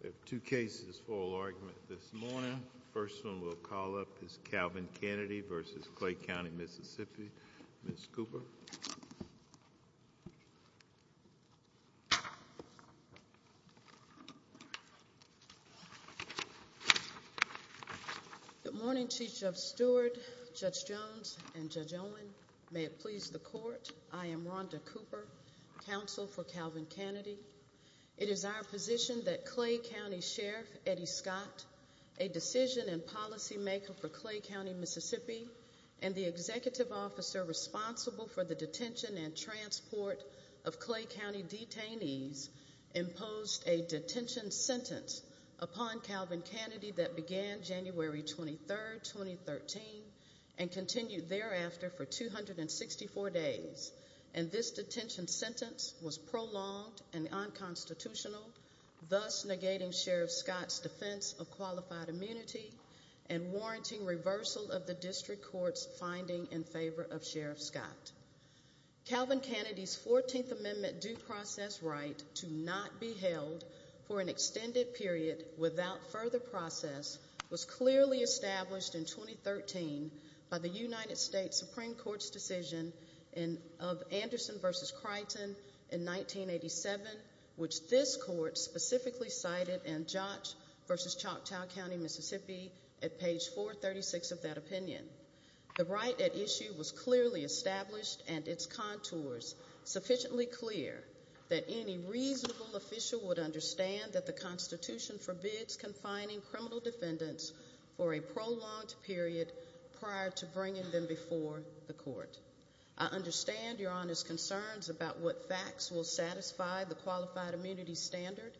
There are two cases for oral argument this morning. The first one we'll call up is Calvin Canady v. Clay County Mississippi. Ms. Cooper. Good morning, Chief Judge Stewart, Judge Jones, and Judge Owen. May it please the court, I am Rhonda Cooper, counsel for Calvin Canady. It is our position that Clay County Sheriff Eddie Scott, a decision and policy maker for Clay County Mississippi and the executive officer responsible for the detention and transport of Clay County detainees, imposed a detention sentence upon Calvin Canady that began January 23, 2013 and continued thereafter for 264 days. And this detention sentence was prolonged and unconstitutional, thus negating Sheriff Scott's defense of qualified immunity and warranting reversal of the district court's finding in favor of Sheriff Scott. Calvin Canady's 14th Amendment due process right to not be held for an extended period without further process was clearly established in 2013 by the United States Supreme Court's decision of Anderson v. Crichton in 1987, which this court specifically cited in Jotch v. Choctaw County Mississippi at page 436 of that opinion. The right at issue was clearly established and its contours sufficiently clear that any reasonable official would understand that the Constitution forbids confining criminal defendants for a prolonged period prior to and before the court. I understand Your Honor's concerns about what facts will satisfy the qualified immunity standard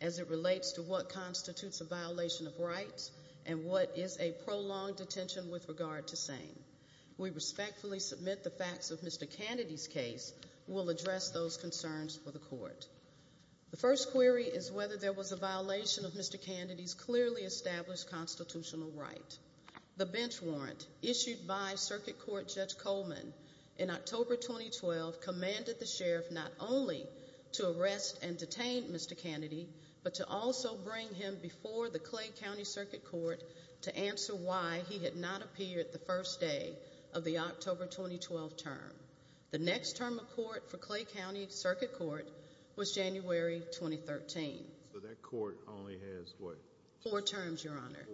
as it relates to what constitutes a violation of rights and what is a prolonged detention with regard to SANE. We respectfully submit the facts of Mr. Canady's case will address those concerns for the court. The first query is whether there was a violation of Mr. Canady's clearly established constitutional right. The bench warrant issued by Circuit Court Judge Coleman in October 2012 commanded the Sheriff not only to arrest and detain Mr. Canady but to also bring him before the Clay County Circuit Court to answer why he had not appeared the first day of the October 2012 term. The next term of court for Clay County Circuit Court was January 2013. So that court only has what? Four terms Your Honor.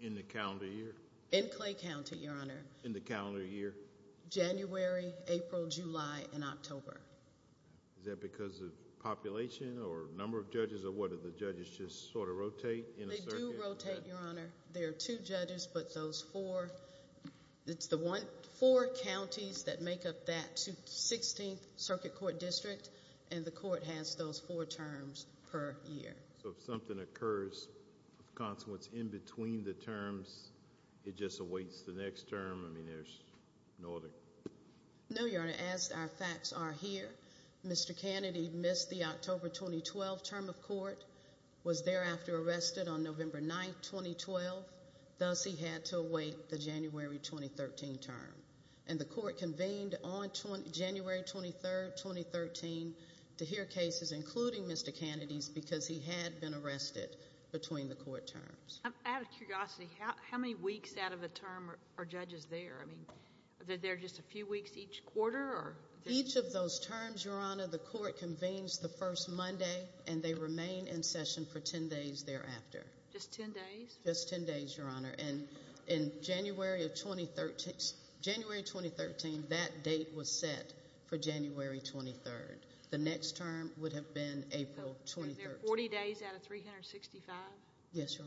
In the calendar year? In Clay County Your Honor. In the calendar year? January, April, July, and October. Is that because of population or number of judges or what do the judges just sort of rotate in a circuit? They do rotate Your Honor. There are two judges but those four it's the one four counties that make up that 16th Circuit Court District and the court has those four terms per year. So if something occurs of consequence in between the terms it just awaits the next term? I mean there's no other? No Your Honor. As our facts are here Mr. Canady missed the October 2012 term of court was thereafter arrested on November 9, 2012. Thus he had to await the January 2013 term and the court convened on January 23, 2013 to hear cases including Mr. Canady's because he had been arrested between the court terms. Out of curiosity how many weeks out of the term are judges there? I mean are there just a few weeks each quarter? Each of those terms Your Honor the court convenes the first Monday and they and in January of 2013 January 2013 that date was set for January 23rd. The next term would have been April 23rd. 40 days out of 365? Yes Your Honor.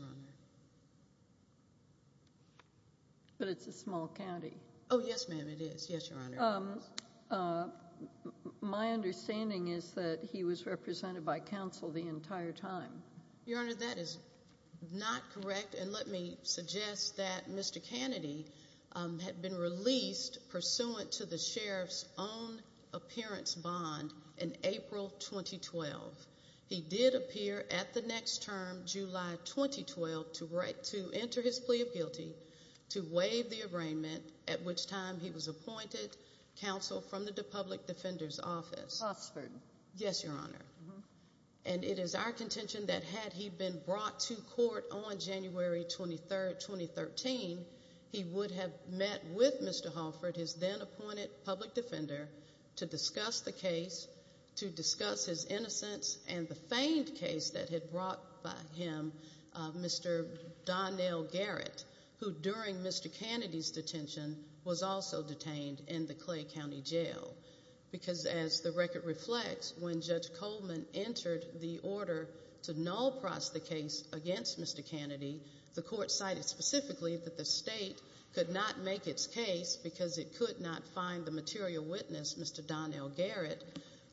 But it's a small county? Oh yes ma'am it is yes Your Honor. My understanding is that he was represented by counsel the entire time? Your Honor that is not correct and let me suggest that Mr. Canady had been released pursuant to the sheriff's own appearance bond in April 2012. He did appear at the next term July 2012 to write to enter his plea of guilty to waive the arraignment at which time he was appointed counsel from the public defender's office. Oxford? Yes Your Honor and it is our intention that had he been brought to court on January 23rd 2013 he would have met with Mr. Holford his then appointed public defender to discuss the case to discuss his innocence and the feigned case that had brought by him Mr. Donnell Garrett who during Mr. Canady's detention was also detained in the Clay County Jail because as the record reflects when Judge Coleman entered the order to null pross the case against Mr. Canady the court cited specifically that the state could not make its case because it could not find the material witness Mr. Donnell Garrett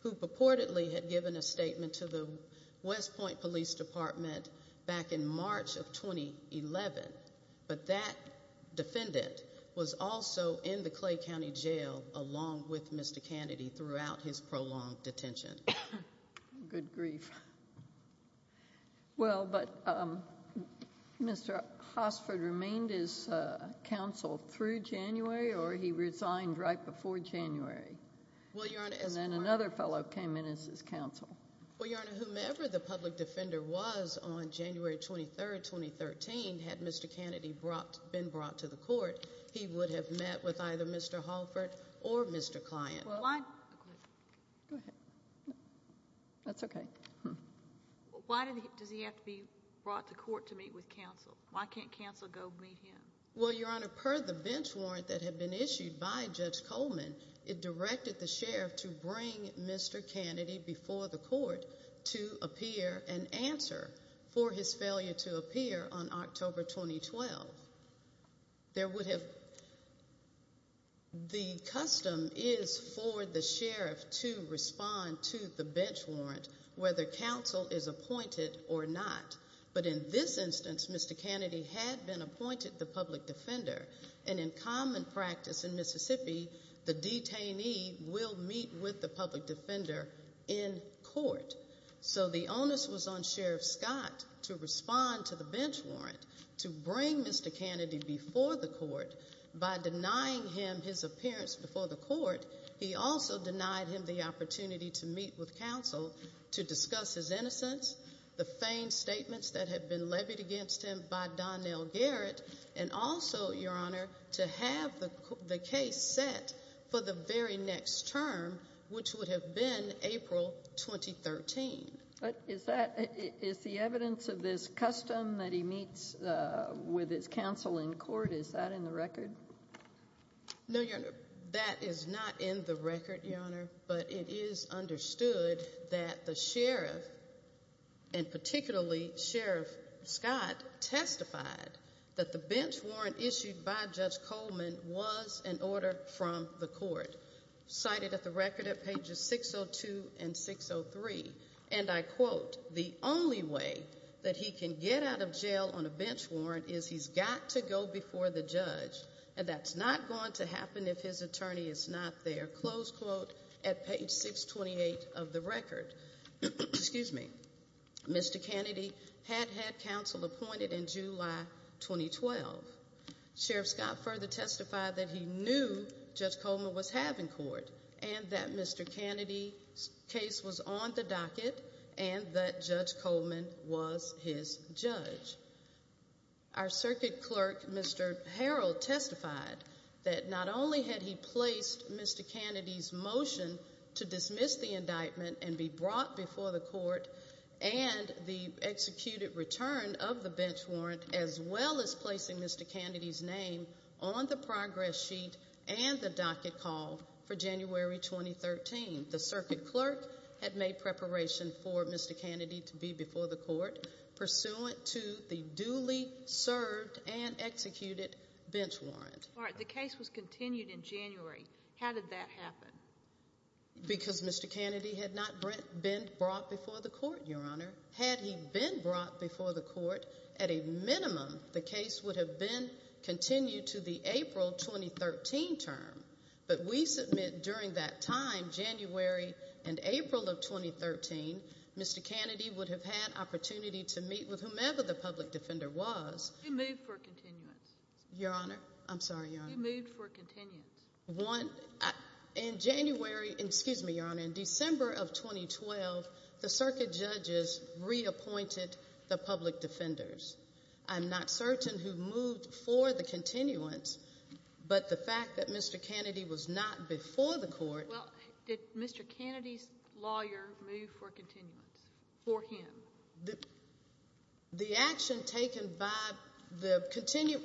who purportedly had given a statement to the West Point Police Department back in March of 2011 but that defendant was also in the Clay County Jail along with Mr. Canady throughout his prolonged detention. Good grief. Well but um Mr. Hosford remained as uh counsel through January or he resigned right before January? Well Your Honor and then another fellow came in as his counsel. Well Your Honor whomever the public defender was on January 23rd 2013 had Mr. Canady brought been brought to the court he would have met with either Mr. Holford or Mr. Client. Go ahead. That's okay. Why did he does he have to be brought to court to meet with counsel? Why can't counsel go meet him? Well Your Honor per the bench warrant that had been issued by Judge Coleman it directed the sheriff to bring Mr. Canady before the court to appear and answer for his failure to appear on October 2012. There would have the custom is for the sheriff to respond to the bench warrant whether counsel is appointed or not but in this instance Mr. Canady had been appointed the public defender and in common practice in Mississippi the detainee will meet with the public defender in court so the onus was on Sheriff Scott to respond to the bench warrant to bring Mr. Canady before the court by denying him his appearance before the court he also denied him the opportunity to meet with counsel to discuss his innocence the feigned statements that had been levied against him by Donnell Garrett and also Your Honor to have the case set for the very next term which would have been April 2013. Is that is the evidence of this custom that he meets with his counsel in court is that in the record? No Your Honor that is not in the record Your Honor but it is understood that the sheriff and particularly Sheriff Scott testified that the bench warrant issued by Judge Coleman was an order from the court cited at the record at pages 602 and 603 and I quote the only way that he can get out of jail on a bench warrant is he's got to go before the judge and that's not going to happen if his attorney is not there close quote at page 628 of the record excuse me Mr. Canady had had counsel appointed in July 2012. Sheriff Scott further testified that he knew Judge Coleman was having court and that Mr. Canady's case was on the docket and that Judge was his judge. Our circuit clerk Mr. Harrell testified that not only had he placed Mr. Canady's motion to dismiss the indictment and be brought before the court and the executed return of the bench warrant as well as placing Mr. Canady's name on the progress sheet and the pursuant to the duly served and executed bench warrant. All right the case was continued in January how did that happen? Because Mr. Canady had not been brought before the court Your Honor had he been brought before the court at a minimum the case would have been continued to the April 2013 term but we submit during that time January and April of 2013 Mr. Canady would have opportunity to meet with whomever the public defender was. Who moved for continuance? Your Honor I'm sorry Your Honor. Who moved for continuance? One in January excuse me Your Honor in December of 2012 the circuit judges reappointed the public defenders. I'm not certain who moved for the continuance but the fact that Mr. Canady was not before the court. Well did Mr. Canady's for him? The action taken by the continued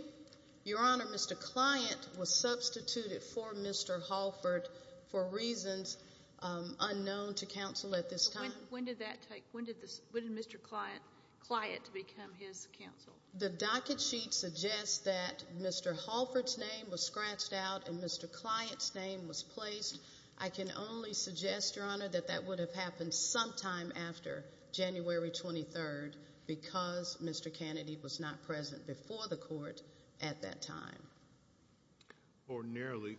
Your Honor Mr. Client was substituted for Mr. Halford for reasons unknown to counsel at this time. When did that take when did this when did Mr. Client become his counsel? The docket sheet suggests that Mr. Halford's name was scratched out and Mr. Client's name was placed. I can only suggest Your Honor that that would have happened sometime after January 23rd because Mr. Canady was not present before the court at that time. Ordinarily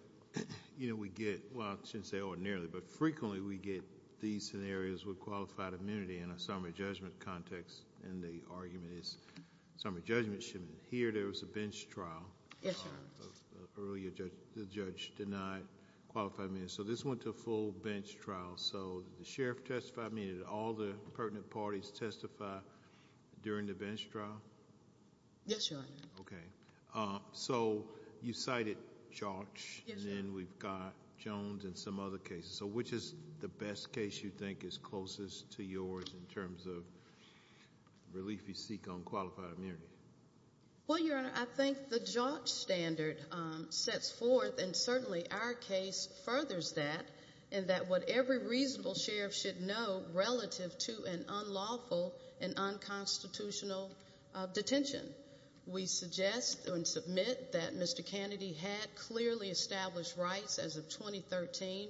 you know we get well I shouldn't say ordinarily but frequently we get these scenarios with qualified amenity in a summary judgment context and the argument is summary judgment should here there was a bench trial earlier the judge denied qualified amenity so this went to a bench trial so the sheriff testified I mean did all the pertinent parties testify during the bench trial? Yes Your Honor. Okay so you cited George and then we've got Jones and some other cases so which is the best case you think is closest to yours in terms of relief you seek on qualified amenity? Well Your Honor I think the George standard sets forth and certainly our case furthers that and that what every reasonable sheriff should know relative to an unlawful and unconstitutional detention. We suggest and submit that Mr. Canady had clearly established rights as of 2013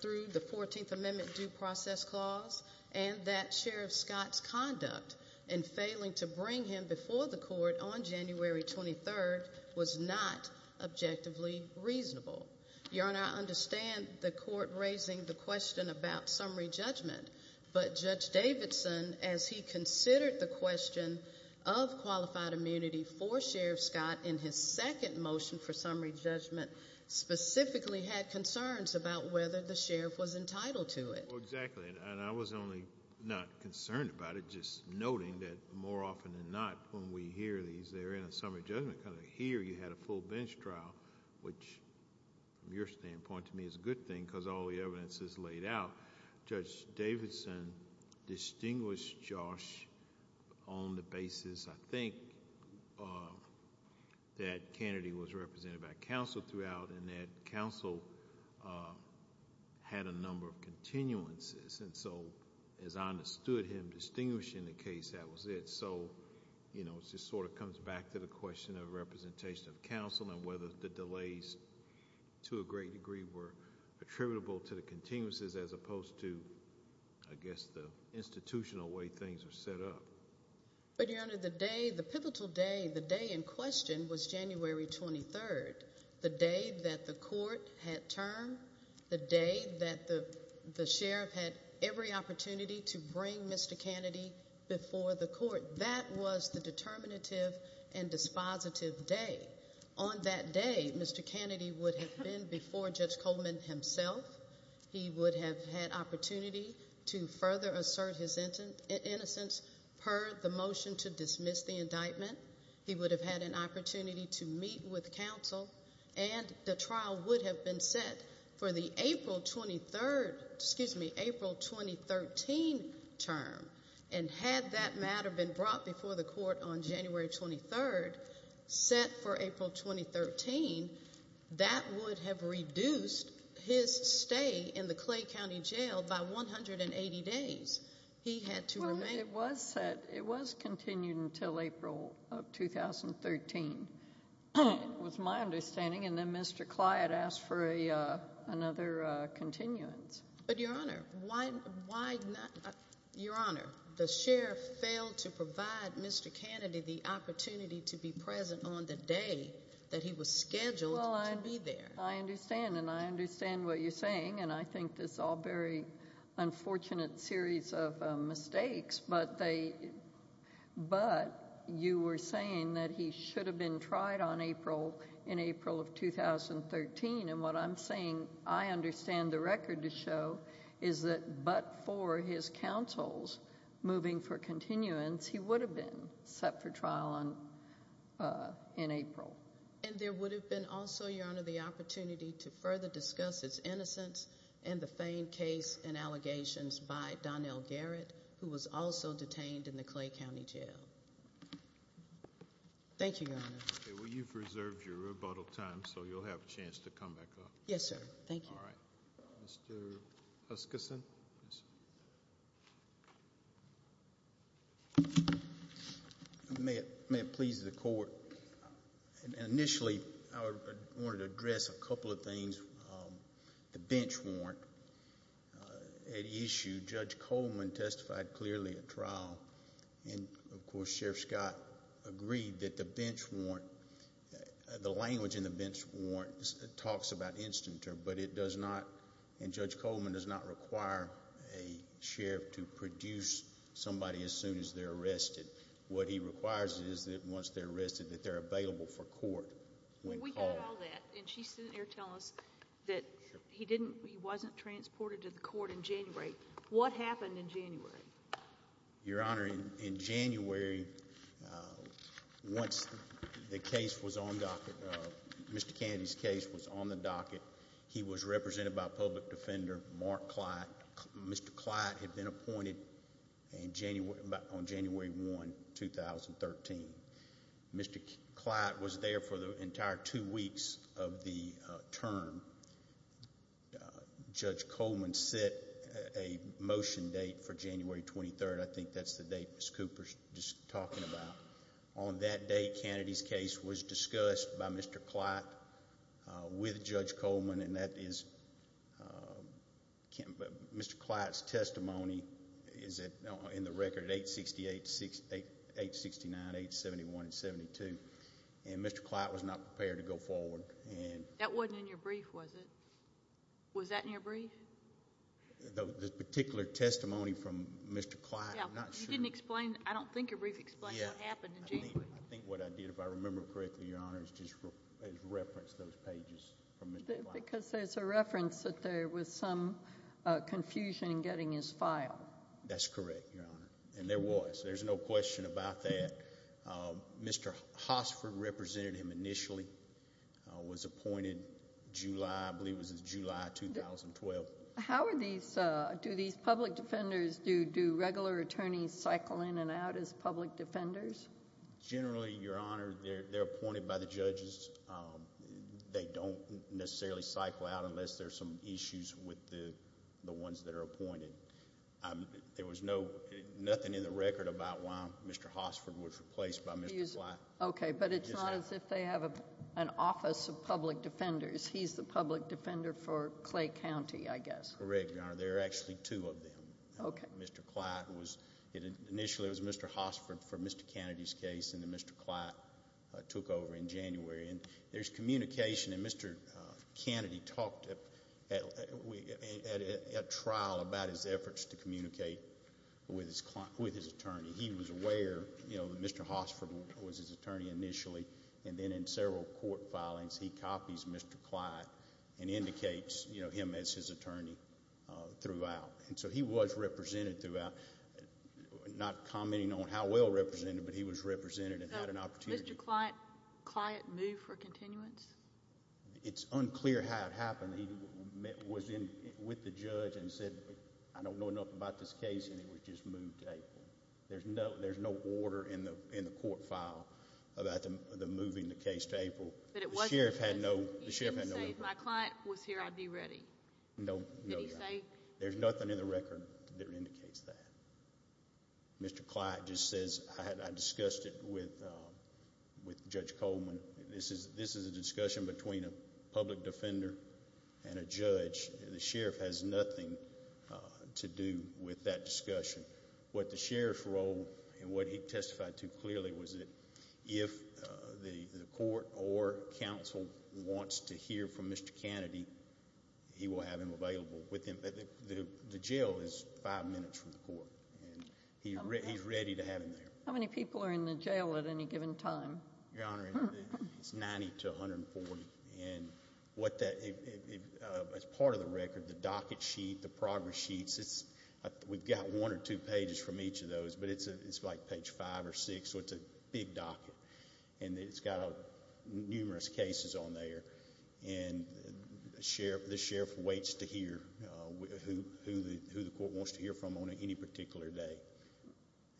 through the 14th amendment due process clause and that Sheriff Scott's conduct in failing to bring him before the court on January 23rd was not objectively reasonable. Your Honor I understand the court raising the question about summary judgment but Judge Davidson as he considered the question of qualified immunity for Sheriff Scott in his second motion for summary judgment specifically had concerns about whether the sheriff was entitled to it. Well exactly and I was only not concerned about it just noting that more often than not when we these they're in a summary judgment kind of here you had a full bench trial which from your standpoint to me is a good thing because all the evidence is laid out. Judge Davidson distinguished Josh on the basis I think that Canady was represented by counsel throughout and that counsel had a number of continuances and so as I understood him distinguishing the case that was it so you know it just sort of comes back to the question of representation of counsel and whether the delays to a great degree were attributable to the continuances as opposed to I guess the institutional way things are set up. But your honor the day the pivotal day the day in question was January 23rd the day that the court had term the day that the the sheriff had every opportunity to bring Mr. Canady before the court that was the determinative and dispositive day on that day Mr. Canady would have been before Judge Coleman himself he would have had opportunity to further assert his innocence per the motion to dismiss the indictment he would have had an opportunity to meet with counsel and the trial would have been set for the April 23rd excuse me April 2013 term and had that matter been brought before the court on January 23rd set for April 2013 that would have reduced his stay in the Clay County Jail by 180 days he had to remain it was set it was continued until April of 2013 was my understanding and then Mr. Clyde asked for a another continuance but your honor why why not your honor the sheriff failed to provide Mr. Canady the opportunity to be present on the day that he was scheduled to be there I understand and I understand what you're saying and I think this all very unfortunate series of mistakes but they but you were saying that he should have been tried on April in April of 2013 and what I'm saying I understand the record to show is that but for his counsels moving for continuance he would have been set for trial on uh in April and there would have been also your honor the opportunity to in the Clay County Jail thank you your honor okay well you've reserved your rebuttal time so you'll have a chance to come back up yes sir thank you all right Mr. Huskison may it may it please the court and initially I wanted to address a couple of things um and of course Sheriff Scott agreed that the bench warrant the language in the bench warrants talks about instant term but it does not and Judge Coleman does not require a sheriff to produce somebody as soon as they're arrested what he requires is that once they're arrested that they're available for court when we got all that and she's sitting here telling us that he didn't he wasn't transported to the court in January what happened in January your honor in January once the case was on docket Mr. Kennedy's case was on the docket he was represented by public defender Mark Clyde Mr. Clyde had been appointed in January on January 1, 2013. Mr. Clyde was there for the entire two weeks of the term and Judge Coleman set a motion date for January 23rd I think that's the date Miss Cooper's just talking about on that date Kennedy's case was discussed by Mr. Clyde with Judge Coleman and that is Mr. Clyde's testimony is that in the record at 868, 869, 871 and 72 and Mr. Clyde was not prepared to go forward and that wasn't in your brief was it was that in your brief the particular testimony from Mr. Clyde you didn't explain I don't think your brief explained what happened in January I think what I did if I remember correctly your honor is just referenced those pages from Mr. Clyde because there's a reference that there was some confusion in getting his file that's correct your honor and there was there's no question about that Mr. Hosford represented him initially was appointed July I believe it was July 2012. How are these uh do these public defenders do do regular attorneys cycle in and out as public defenders? Generally your honor they're appointed by the judges they don't necessarily cycle out unless there's some issues with the the ones that are appointed there was no nothing in the record about why Mr. Hosford was replaced by Mr. Clyde. Okay but it's not as if they have a an office of public defenders he's the public defender for Clay County I guess. Correct your honor there are actually two of them. Okay. Mr. Clyde was it initially was Mr. Hosford for Mr. Kennedy's case and then Mr. Clyde took over in January and there's communication and Mr. Kennedy talked at a trial about his efforts to communicate with his client with his attorney he was aware you know that Mr. Hosford was his attorney initially and then in several court filings he copies Mr. Clyde and indicates you know him as his attorney uh throughout and so he was represented throughout not commenting on how well represented but he was represented and had an opportunity. Mr. Clyde client moved for continuance? It's unclear how it happened he was in with the judge and said I don't know enough about this case and it was just moved to April. There's no there's no order in the in the court file about the moving the case to April. But it was. The sheriff had no the sheriff had no. He didn't say if my client was here I'd be ready. No. Did he say? There's nothing in the record that indicates that Mr. Clyde just says I had I discussed it with with Judge Coleman. This is this is a discussion between a public defender and a judge. The sheriff has nothing to do with that discussion. What the sheriff's role and what he testified to clearly was that if the the court or council wants to hear from Mr. Kennedy he will have him available with him. The jail is five minutes from the court and he's ready to have him there. How many people are in the jail at any given time? Your honor it's 90 to 140 and what that if as part of the record the docket sheet the progress sheets it's we've got one or two pages from each of those but it's a it's like page five or six so it's a big docket and it's got numerous cases on there and the sheriff the sheriff waits to hear who who the who the court wants to hear from on any particular day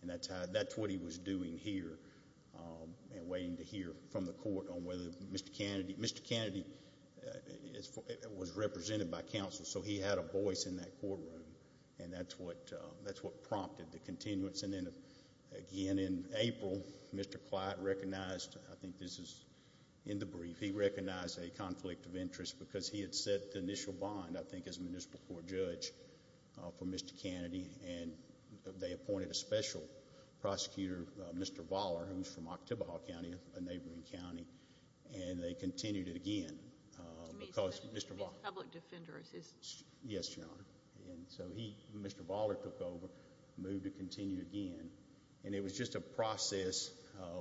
and that's how that's what he was doing here and waiting to hear from the court on whether Mr. Kennedy Mr. Kennedy was represented by counsel so he had a voice in that courtroom and that's what that's what prompted the continuance and then again in April Mr. Clyde recognized I think this is in the brief he recognized a conflict of interest because he had set the initial bond I for Mr. Kennedy and they appointed a special prosecutor Mr. Voller who's from Oktibbeha County a neighboring county and they continued it again because Mr. Voller public defenders is yes your honor and so he Mr. Voller took over moved to continue again and it was just a process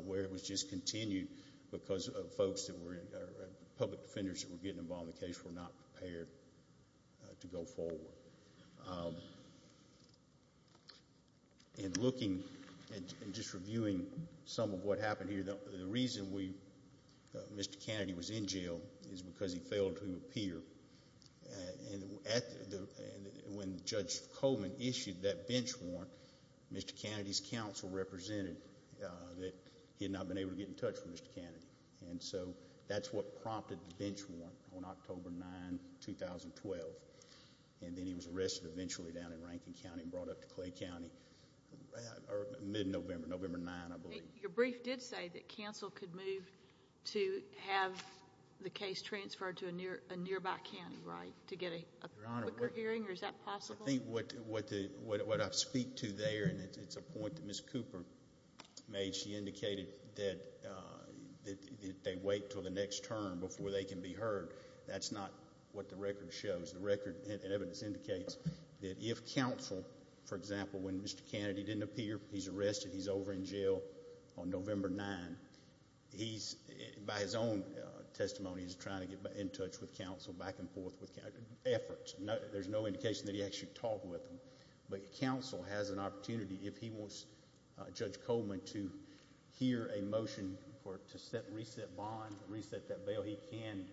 where it was just continued because of folks that were public defenders that were getting involved in the case were not prepared to go forward and looking and just reviewing some of what happened here the the reason we Mr. Kennedy was in jail is because he failed to appear and at the and when Judge Coleman issued that bench warrant Mr. Kennedy's counsel represented that he had not been able to get in and so that's what prompted the bench warrant on October 9 2012 and then he was arrested eventually down in Rankin County and brought up to Clay County or mid-November November 9 I believe your brief did say that counsel could move to have the case transferred to a near a nearby county right to get a quicker hearing or is that possible I think what what the what I speak to and it's a point that Ms. Cooper made she indicated that that they wait till the next term before they can be heard that's not what the record shows the record and evidence indicates that if counsel for example when Mr. Kennedy didn't appear he's arrested he's over in jail on November 9 he's by his own testimony is trying to get in touch with counsel back and forth with if he wants Judge Coleman to hear a motion for to set reset bond reset that bail he can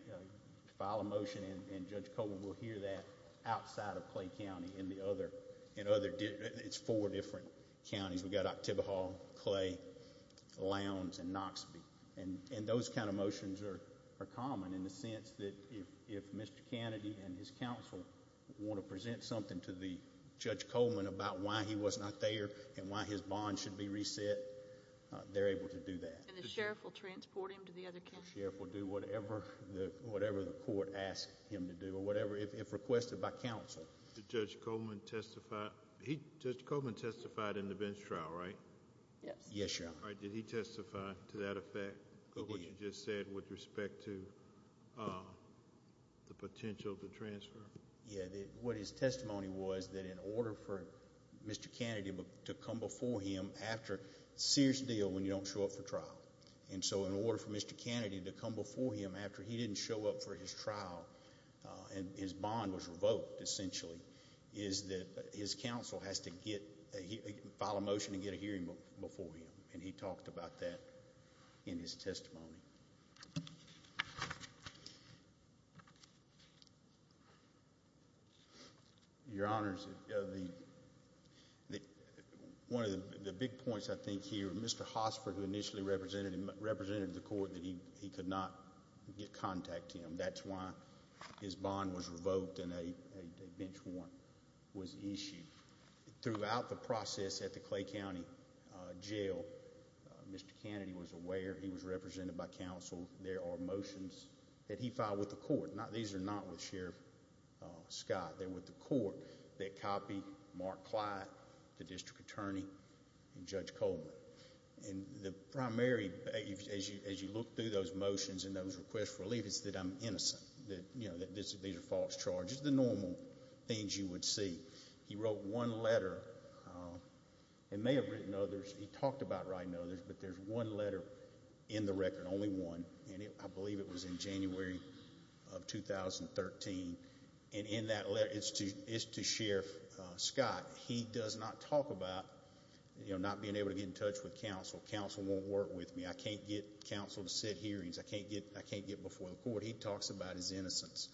file a motion and Judge Coleman will hear that outside of Clay County in the other in other it's four different counties we got October Hall, Clay, Lowndes and Knoxville and and those kind of motions are are common in the sense that if if Mr. Kennedy and his counsel want to present something to the Judge Coleman about why he was not there and why his bond should be reset they're able to do that. And the sheriff will transport him to the other county? The sheriff will do whatever the whatever the court asked him to do or whatever if requested by counsel. Did Judge Coleman testify he Judge Coleman testified in the bench trial right? Yes. Yes your honor. Did he testify to that effect of what you just said with respect to the potential to transfer? Yeah what his testimony was that in order for Mr. Kennedy to come before him after serious deal when you don't show up for trial and so in order for Mr. Kennedy to come before him after he didn't show up for his trial and his bond was revoked essentially is that his counsel has to get a file a motion to get a hearing before him and he talked about that in his testimony. Your honors the the one of the big points I think here Mr. Hosford who initially represented him represented the court that he he could not get contact to him that's why his bond was revoked and a a bench warrant was issued throughout the process at the Clay County uh jail Mr. Kennedy was aware he was represented by counsel there are motions that he filed with the court not these are not with Sheriff uh Scott they're with the court that copy Mark Clyde the district attorney and Judge Coleman and the primary as you as you look through those motions and those requests for relief is that I'm innocent that you know that this these are false charges the normal things you would see he wrote one letter uh and may have written others he talked about writing others but there's one letter in the record only one and I believe it was in January of 2013 and in that letter it's to it's to Sheriff Scott he does not talk about you know not being able to get in touch with counsel counsel won't work with me I can't get counsel to sit hearings I can't get I can't get before the court he talks about his innocence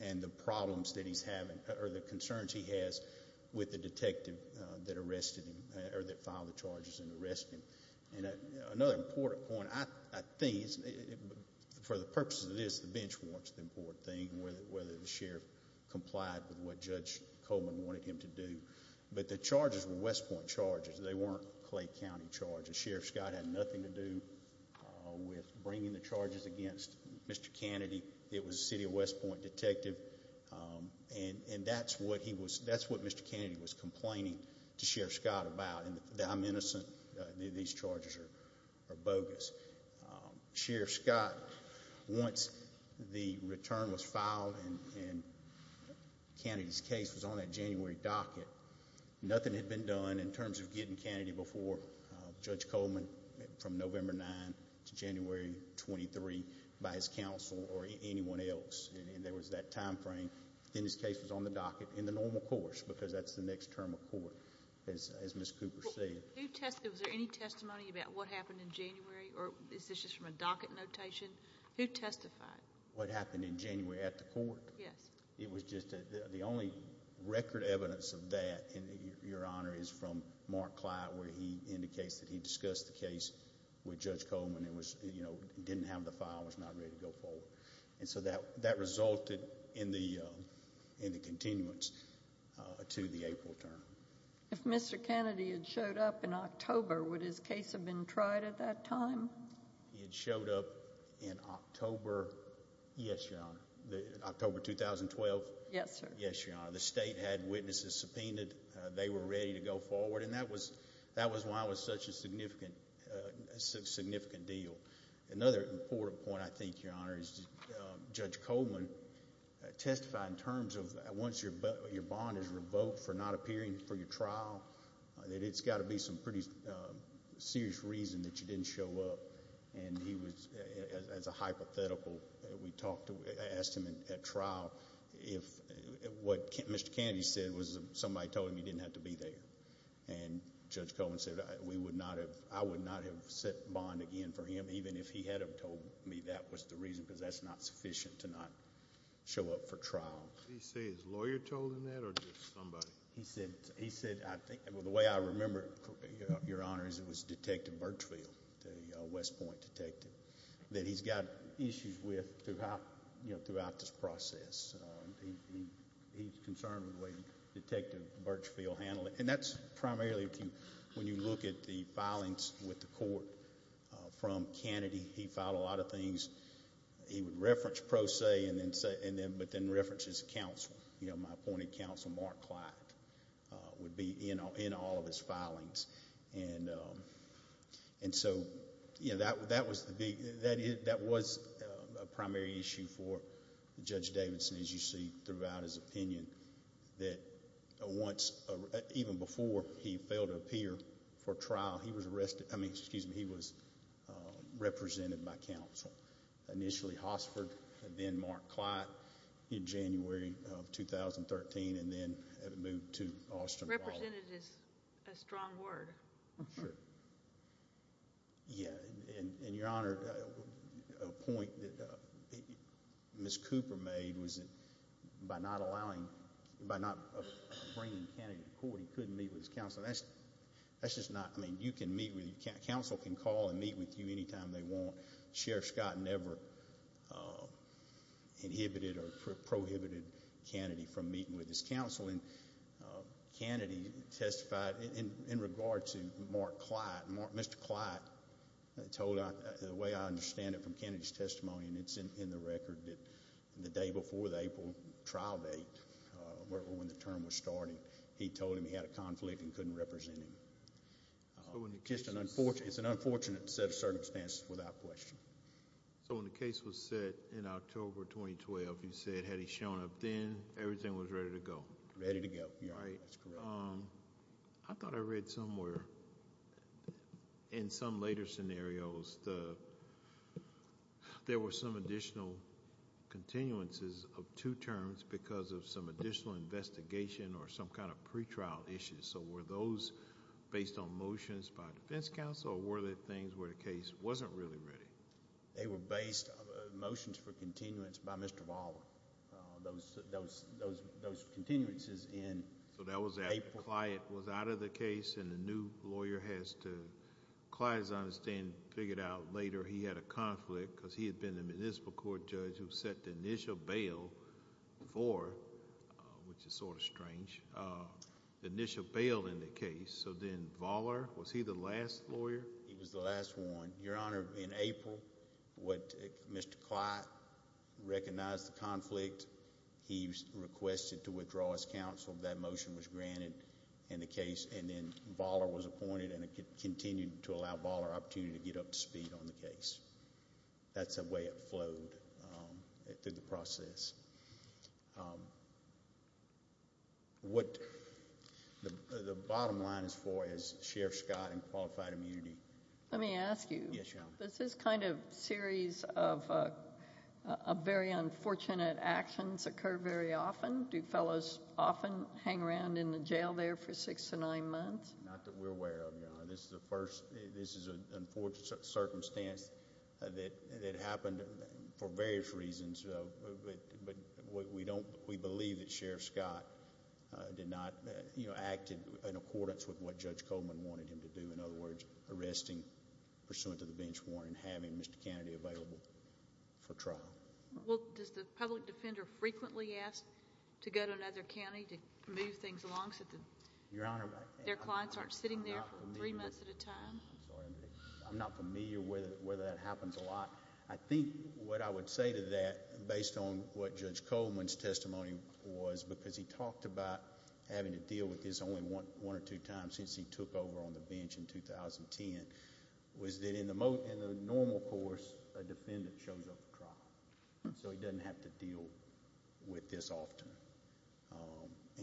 and the problems that he's having or the concerns he has with the detective that arrested him or that filed the charges and arrested him and another important point I think is for the purpose of this the bench warrants the important thing whether the sheriff complied with what Judge Coleman wanted him to do but the charges were West Point charges they weren't Clay County charges Sheriff Scott had nothing to do with bringing the charges against Mr. Kennedy it was a city of West Point detective um and and that's what he was that's what Mr. Kennedy was complaining to Sheriff Scott about and that I'm innocent these charges are bogus Sheriff Scott once the return was filed and Kennedy's case was on that January docket nothing had been done in terms of getting Kennedy before Judge Coleman from November 9 to January 23 by his counsel or anyone else and there was that time frame then his case was on the docket in the normal course because that's the next term of court as as Miss Cooper said who tested was there any testimony about what happened in January or is this just from a docket notation who testified what happened in January at the court yes it was just the only record evidence of that and your honor is from Mark Clyde where he indicates that he discussed the case with Judge Coleman it was you know didn't have the file was ready to go forward and so that that resulted in the uh in the continuance uh to the April term if Mr. Kennedy had showed up in October would his case have been tried at that time he had showed up in October yes your honor the October 2012 yes sir yes your honor the state had witnesses subpoenaed they were ready to go forward and that was that was why it was such a your honor is Judge Coleman testified in terms of once your bond is revoked for not appearing for your trial that it's got to be some pretty serious reason that you didn't show up and he was as a hypothetical we talked to asked him at trial if what Mr. Kennedy said was somebody told him he didn't have to be there and Judge Coleman said we would not have I would not have set bond again for even if he had told me that was the reason because that's not sufficient to not show up for trial he says lawyer told him that or just somebody he said he said I think well the way I remember your honor is it was detective Birchfield the West Point detective that he's got issues with throughout you know throughout this process he's concerned with the way detective Birchfield handled it and that's primarily if you when you look at the filings with the court from Kennedy he filed a lot of things he would reference pro se and then say and then but then reference his counsel you know my appointed counsel Mark Clyde would be you know in all of his filings and and so you know that that was the big that is that was a primary issue for Judge Davidson as you see throughout his opinion that once even before he failed to appear for trial he was arrested I mean excuse me he was represented by counsel initially Hossford and then Mark Clyde in January of 2013 and then moved to Austin. Represented is a strong word. Sure yeah and your honor a point that Ms. Cooper made was that by not allowing by not bringing Kennedy to court he couldn't meet with his counsel that's that's just not I mean you can meet with you counsel can call and meet with you anytime they want Sheriff Scott never inhibited or prohibited Kennedy from meeting with his counsel and Kennedy testified in regard to Mark Clyde. Mr. Clyde told the way I understand it from Kennedy's testimony and it's in the record that the day before the April trial date when the term was starting he told him he had a conflict and couldn't represent him. It's an unfortunate set of circumstances without question. So when the case was set in October 2012 you said had he shown up then everything was ready to go? Ready to go yeah that's correct. I thought I read somewhere in some later scenarios the there were some additional continuances of two terms because of some additional investigation or some kind of pre-trial issues so were those based on motions by defense counsel or were there things where the case wasn't really ready? They were based motions for continuance by Mr. So that was that Clyde was out of the case and the new lawyer has to Clyde as I understand figured out later he had a conflict because he had been the municipal court judge who set the initial bail for which is sort of strange uh the initial bail in the case so then Valler was he the last lawyer? He was the last one your honor in April what Mr. Clyde recognized the conflict he requested to withdraw as counsel that motion was granted in the case and then Valler was appointed and it continued to allow Baller opportunity to get up to speed on the case. That's the way it flowed through the process. What the the bottom line is for is Sheriff Scott and qualified immunity. Let me ask you does this kind of series of uh a very unfortunate actions occur very often do fellows often hang around in the jail there for six to nine months? Not that we're aware of your honor this is the first this is an unfortunate circumstance that that happened for various reasons but but we don't we believe that Sheriff Scott uh did not you know acted in accordance with what having Mr. Kennedy available for trial. Well does the public defender frequently ask to go to another county to move things along so that your honor their clients aren't sitting there for three months at a time? I'm not familiar with whether that happens a lot I think what I would say to that based on what Judge Coleman's testimony was because he talked about having to deal with this one or two times since he took over on the bench in 2010 was that in the most in the normal course a defendant shows up for trial so he doesn't have to deal with this often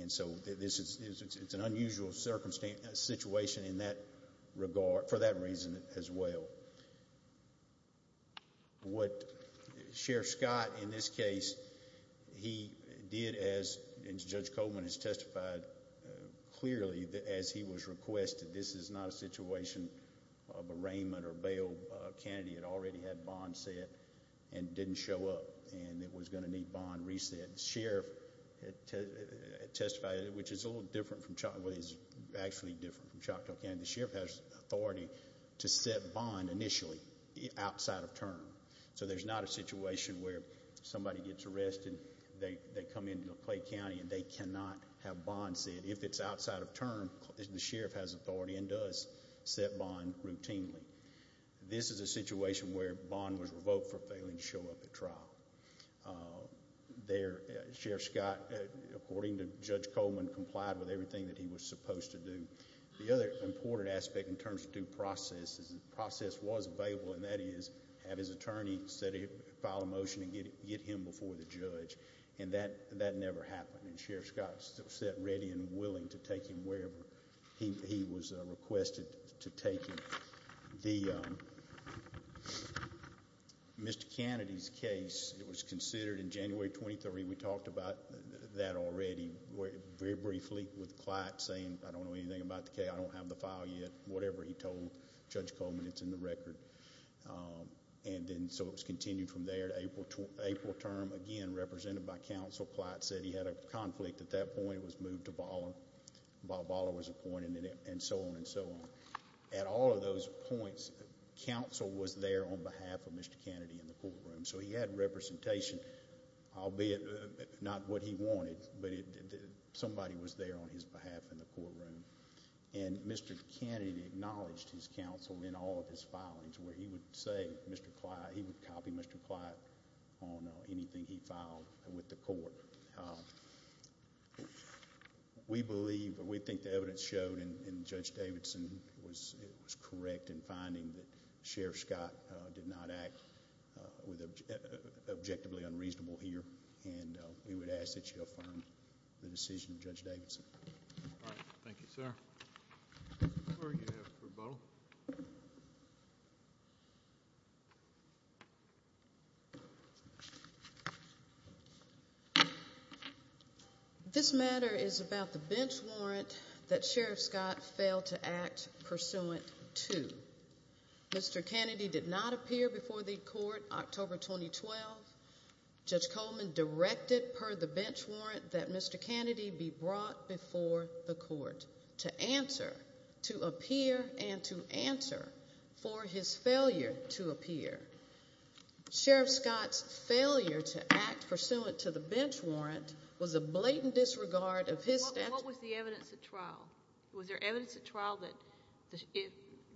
and so this is it's an unusual circumstance situation in that regard for that reason as well. So what Sheriff Scott in this case he did as Judge Coleman has testified clearly that as he was requested this is not a situation of arraignment or bail uh Kennedy had already had bond set and didn't show up and it was going to need bond reset. The sheriff had testified which is a little different from what is actually different from Choctaw County. The sheriff has authority to set bond initially outside of term so there's not a situation where somebody gets arrested they they come into Clay County and they cannot have bond set if it's outside of term the sheriff has authority and does set bond routinely. This is a situation where bond was revoked for failing to show up at trial. There Sheriff Scott according to Judge Coleman complied with everything that he was supposed to do. The other important aspect in terms of due process is the process was available and that is have his attorney set a file a motion and get get him before the judge and that that never happened and Sheriff Scott still set ready and willing to take him wherever he was requested to take him. The um Mr. Kennedy's case it was considered in January 23 we talked about that already very briefly with Clyde saying I don't know anything about the case I don't have the file yet whatever he told Judge Coleman it's in the record um and then so it was continued from there to April to April term again represented by counsel Clyde said he had a conflict at that point it was moved to Bala. Bala was appointed and so on and so on. At all of those points counsel was there on behalf of Mr. Kennedy in the courtroom so he had representation albeit not what he wanted but somebody was there on his behalf in the courtroom and Mr. Kennedy acknowledged his counsel in all of his filings where he would say Mr. Clyde he would copy Mr. Clyde on anything he filed with the court. We believe we think the evidence showed and Judge Davidson was it was correct in finding that Scott did not act with objectively unreasonable here and we would ask that you affirm the decision of Judge Davidson. All right thank you sir. This matter is about the bench warrant that Sheriff Scott failed to act pursuant to. Mr. Kennedy did not appear before the court October 2012. Judge Coleman directed per the bench warrant that Mr. Kennedy be brought before the court to answer to appear and to answer for his failure to appear. Sheriff Scott's failure to act pursuant to the bench warrant was a blatant disregard of his. What was the evidence at trial? Was there evidence at trial that if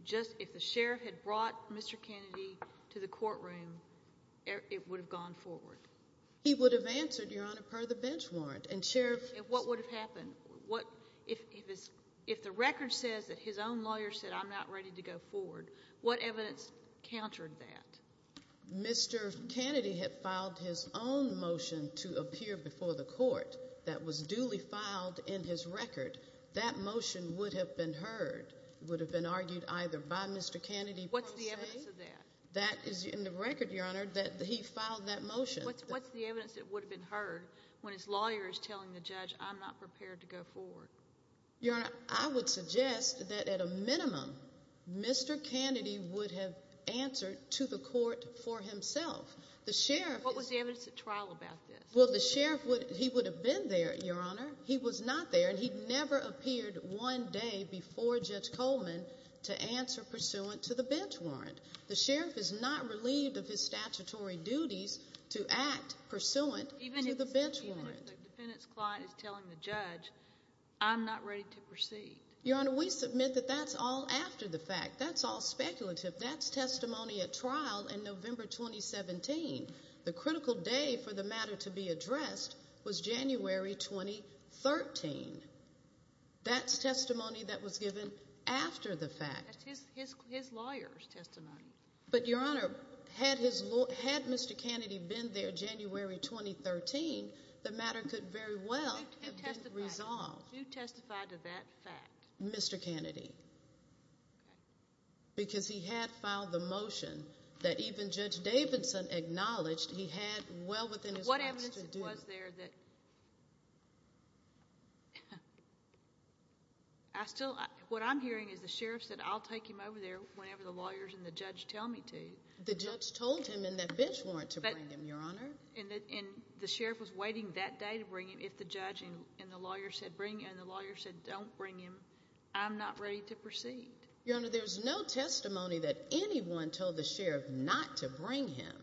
just if the sheriff had brought Mr. Kennedy to the courtroom it would have gone forward? He would have answered your honor per the bench warrant and sheriff what would have happened what if if it's if the record says that his own lawyer said I'm not ready to go forward what evidence countered that? Mr. Kennedy had filed his own motion to appear before the court that was duly filed in his record. That motion would have been heard would have been argued either by Mr. Kennedy. What's the evidence of that? That is in the record your honor that he filed that motion. What's the evidence that would have been heard when his lawyer is telling the judge I'm not prepared to go forward? Your honor I would suggest that at a minimum Mr. Kennedy would have answered to the court for himself. The sheriff. What was the evidence at trial about this? Well the sheriff would he would have been there your honor. He was not there and he never appeared one day before Judge Coleman to answer pursuant to the bench warrant. The sheriff is not relieved of his statutory duties to act pursuant to the bench warrant. Even if the defendant's client is telling the judge I'm not ready to proceed. Your honor we submit that that's all after the fact. That's all speculative. That's testimony at trial in November 2017. The critical day for the address was January 2013. That's testimony that was given after the fact. That's his his lawyer's testimony. But your honor had his law had Mr. Kennedy been there January 2013 the matter could very well have been resolved. Who testified to that fact? Mr. Kennedy. Okay. Because he had filed the motion that even Judge Davidson acknowledged he had well within his what evidence was there that I still what I'm hearing is the sheriff said I'll take him over there whenever the lawyers and the judge tell me to. The judge told him in that bench warrant to bring him your honor. And the sheriff was waiting that day to bring him if the judge and the lawyer said bring and the lawyer said don't bring him I'm not ready to proceed. Your honor there's no testimony that anyone told the sheriff not to bring him.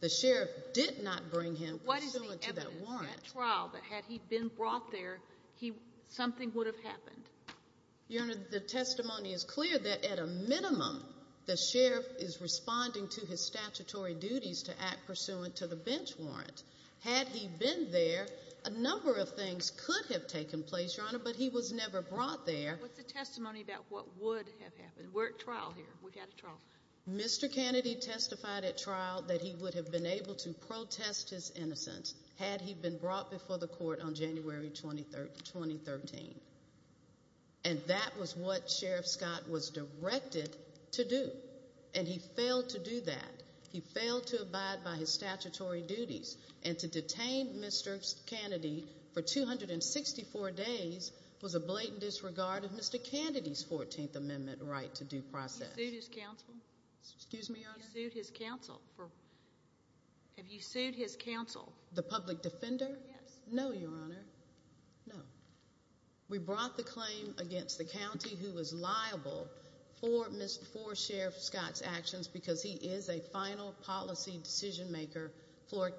The sheriff did not bring him. What is the evidence at trial that had he been brought there he something would have happened? Your honor the testimony is clear that at a minimum the sheriff is responding to his statutory duties to act pursuant to the bench warrant. Had he been there a number of things could have taken place your honor but he was never brought there. What's testified at trial that he would have been able to protest his innocence had he been brought before the court on January 23rd 2013. And that was what Sheriff Scott was directed to do and he failed to do that. He failed to abide by his statutory duties and to detain Mr. Kennedy for 264 days was a blatant disregard of Mr. Kennedy's 14th amendment right to due process. Excuse me his counsel for have you sued his counsel the public defender yes no your honor no. We brought the claim against the county who was liable for miss for Sheriff Scott's actions because he is a final policy decision maker for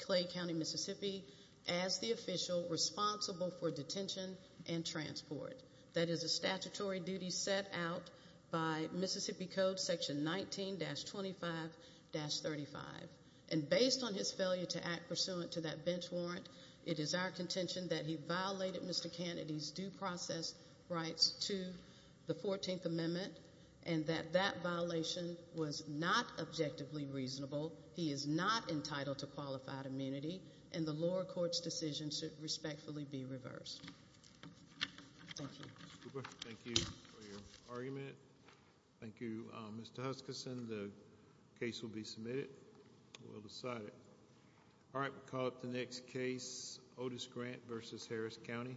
Clay County Mississippi as the official responsible for detention and transport. That is a statutory duty set out by Mississippi Code section 19-25-35 and based on his failure to act pursuant to that bench warrant it is our contention that he violated Mr. Kennedy's due process rights to the 14th amendment and that that violation was not objectively reasonable. He is not entitled to qualified immunity and the the case will be submitted we'll decide it all right we'll call up the next case Otis Grant versus Harris County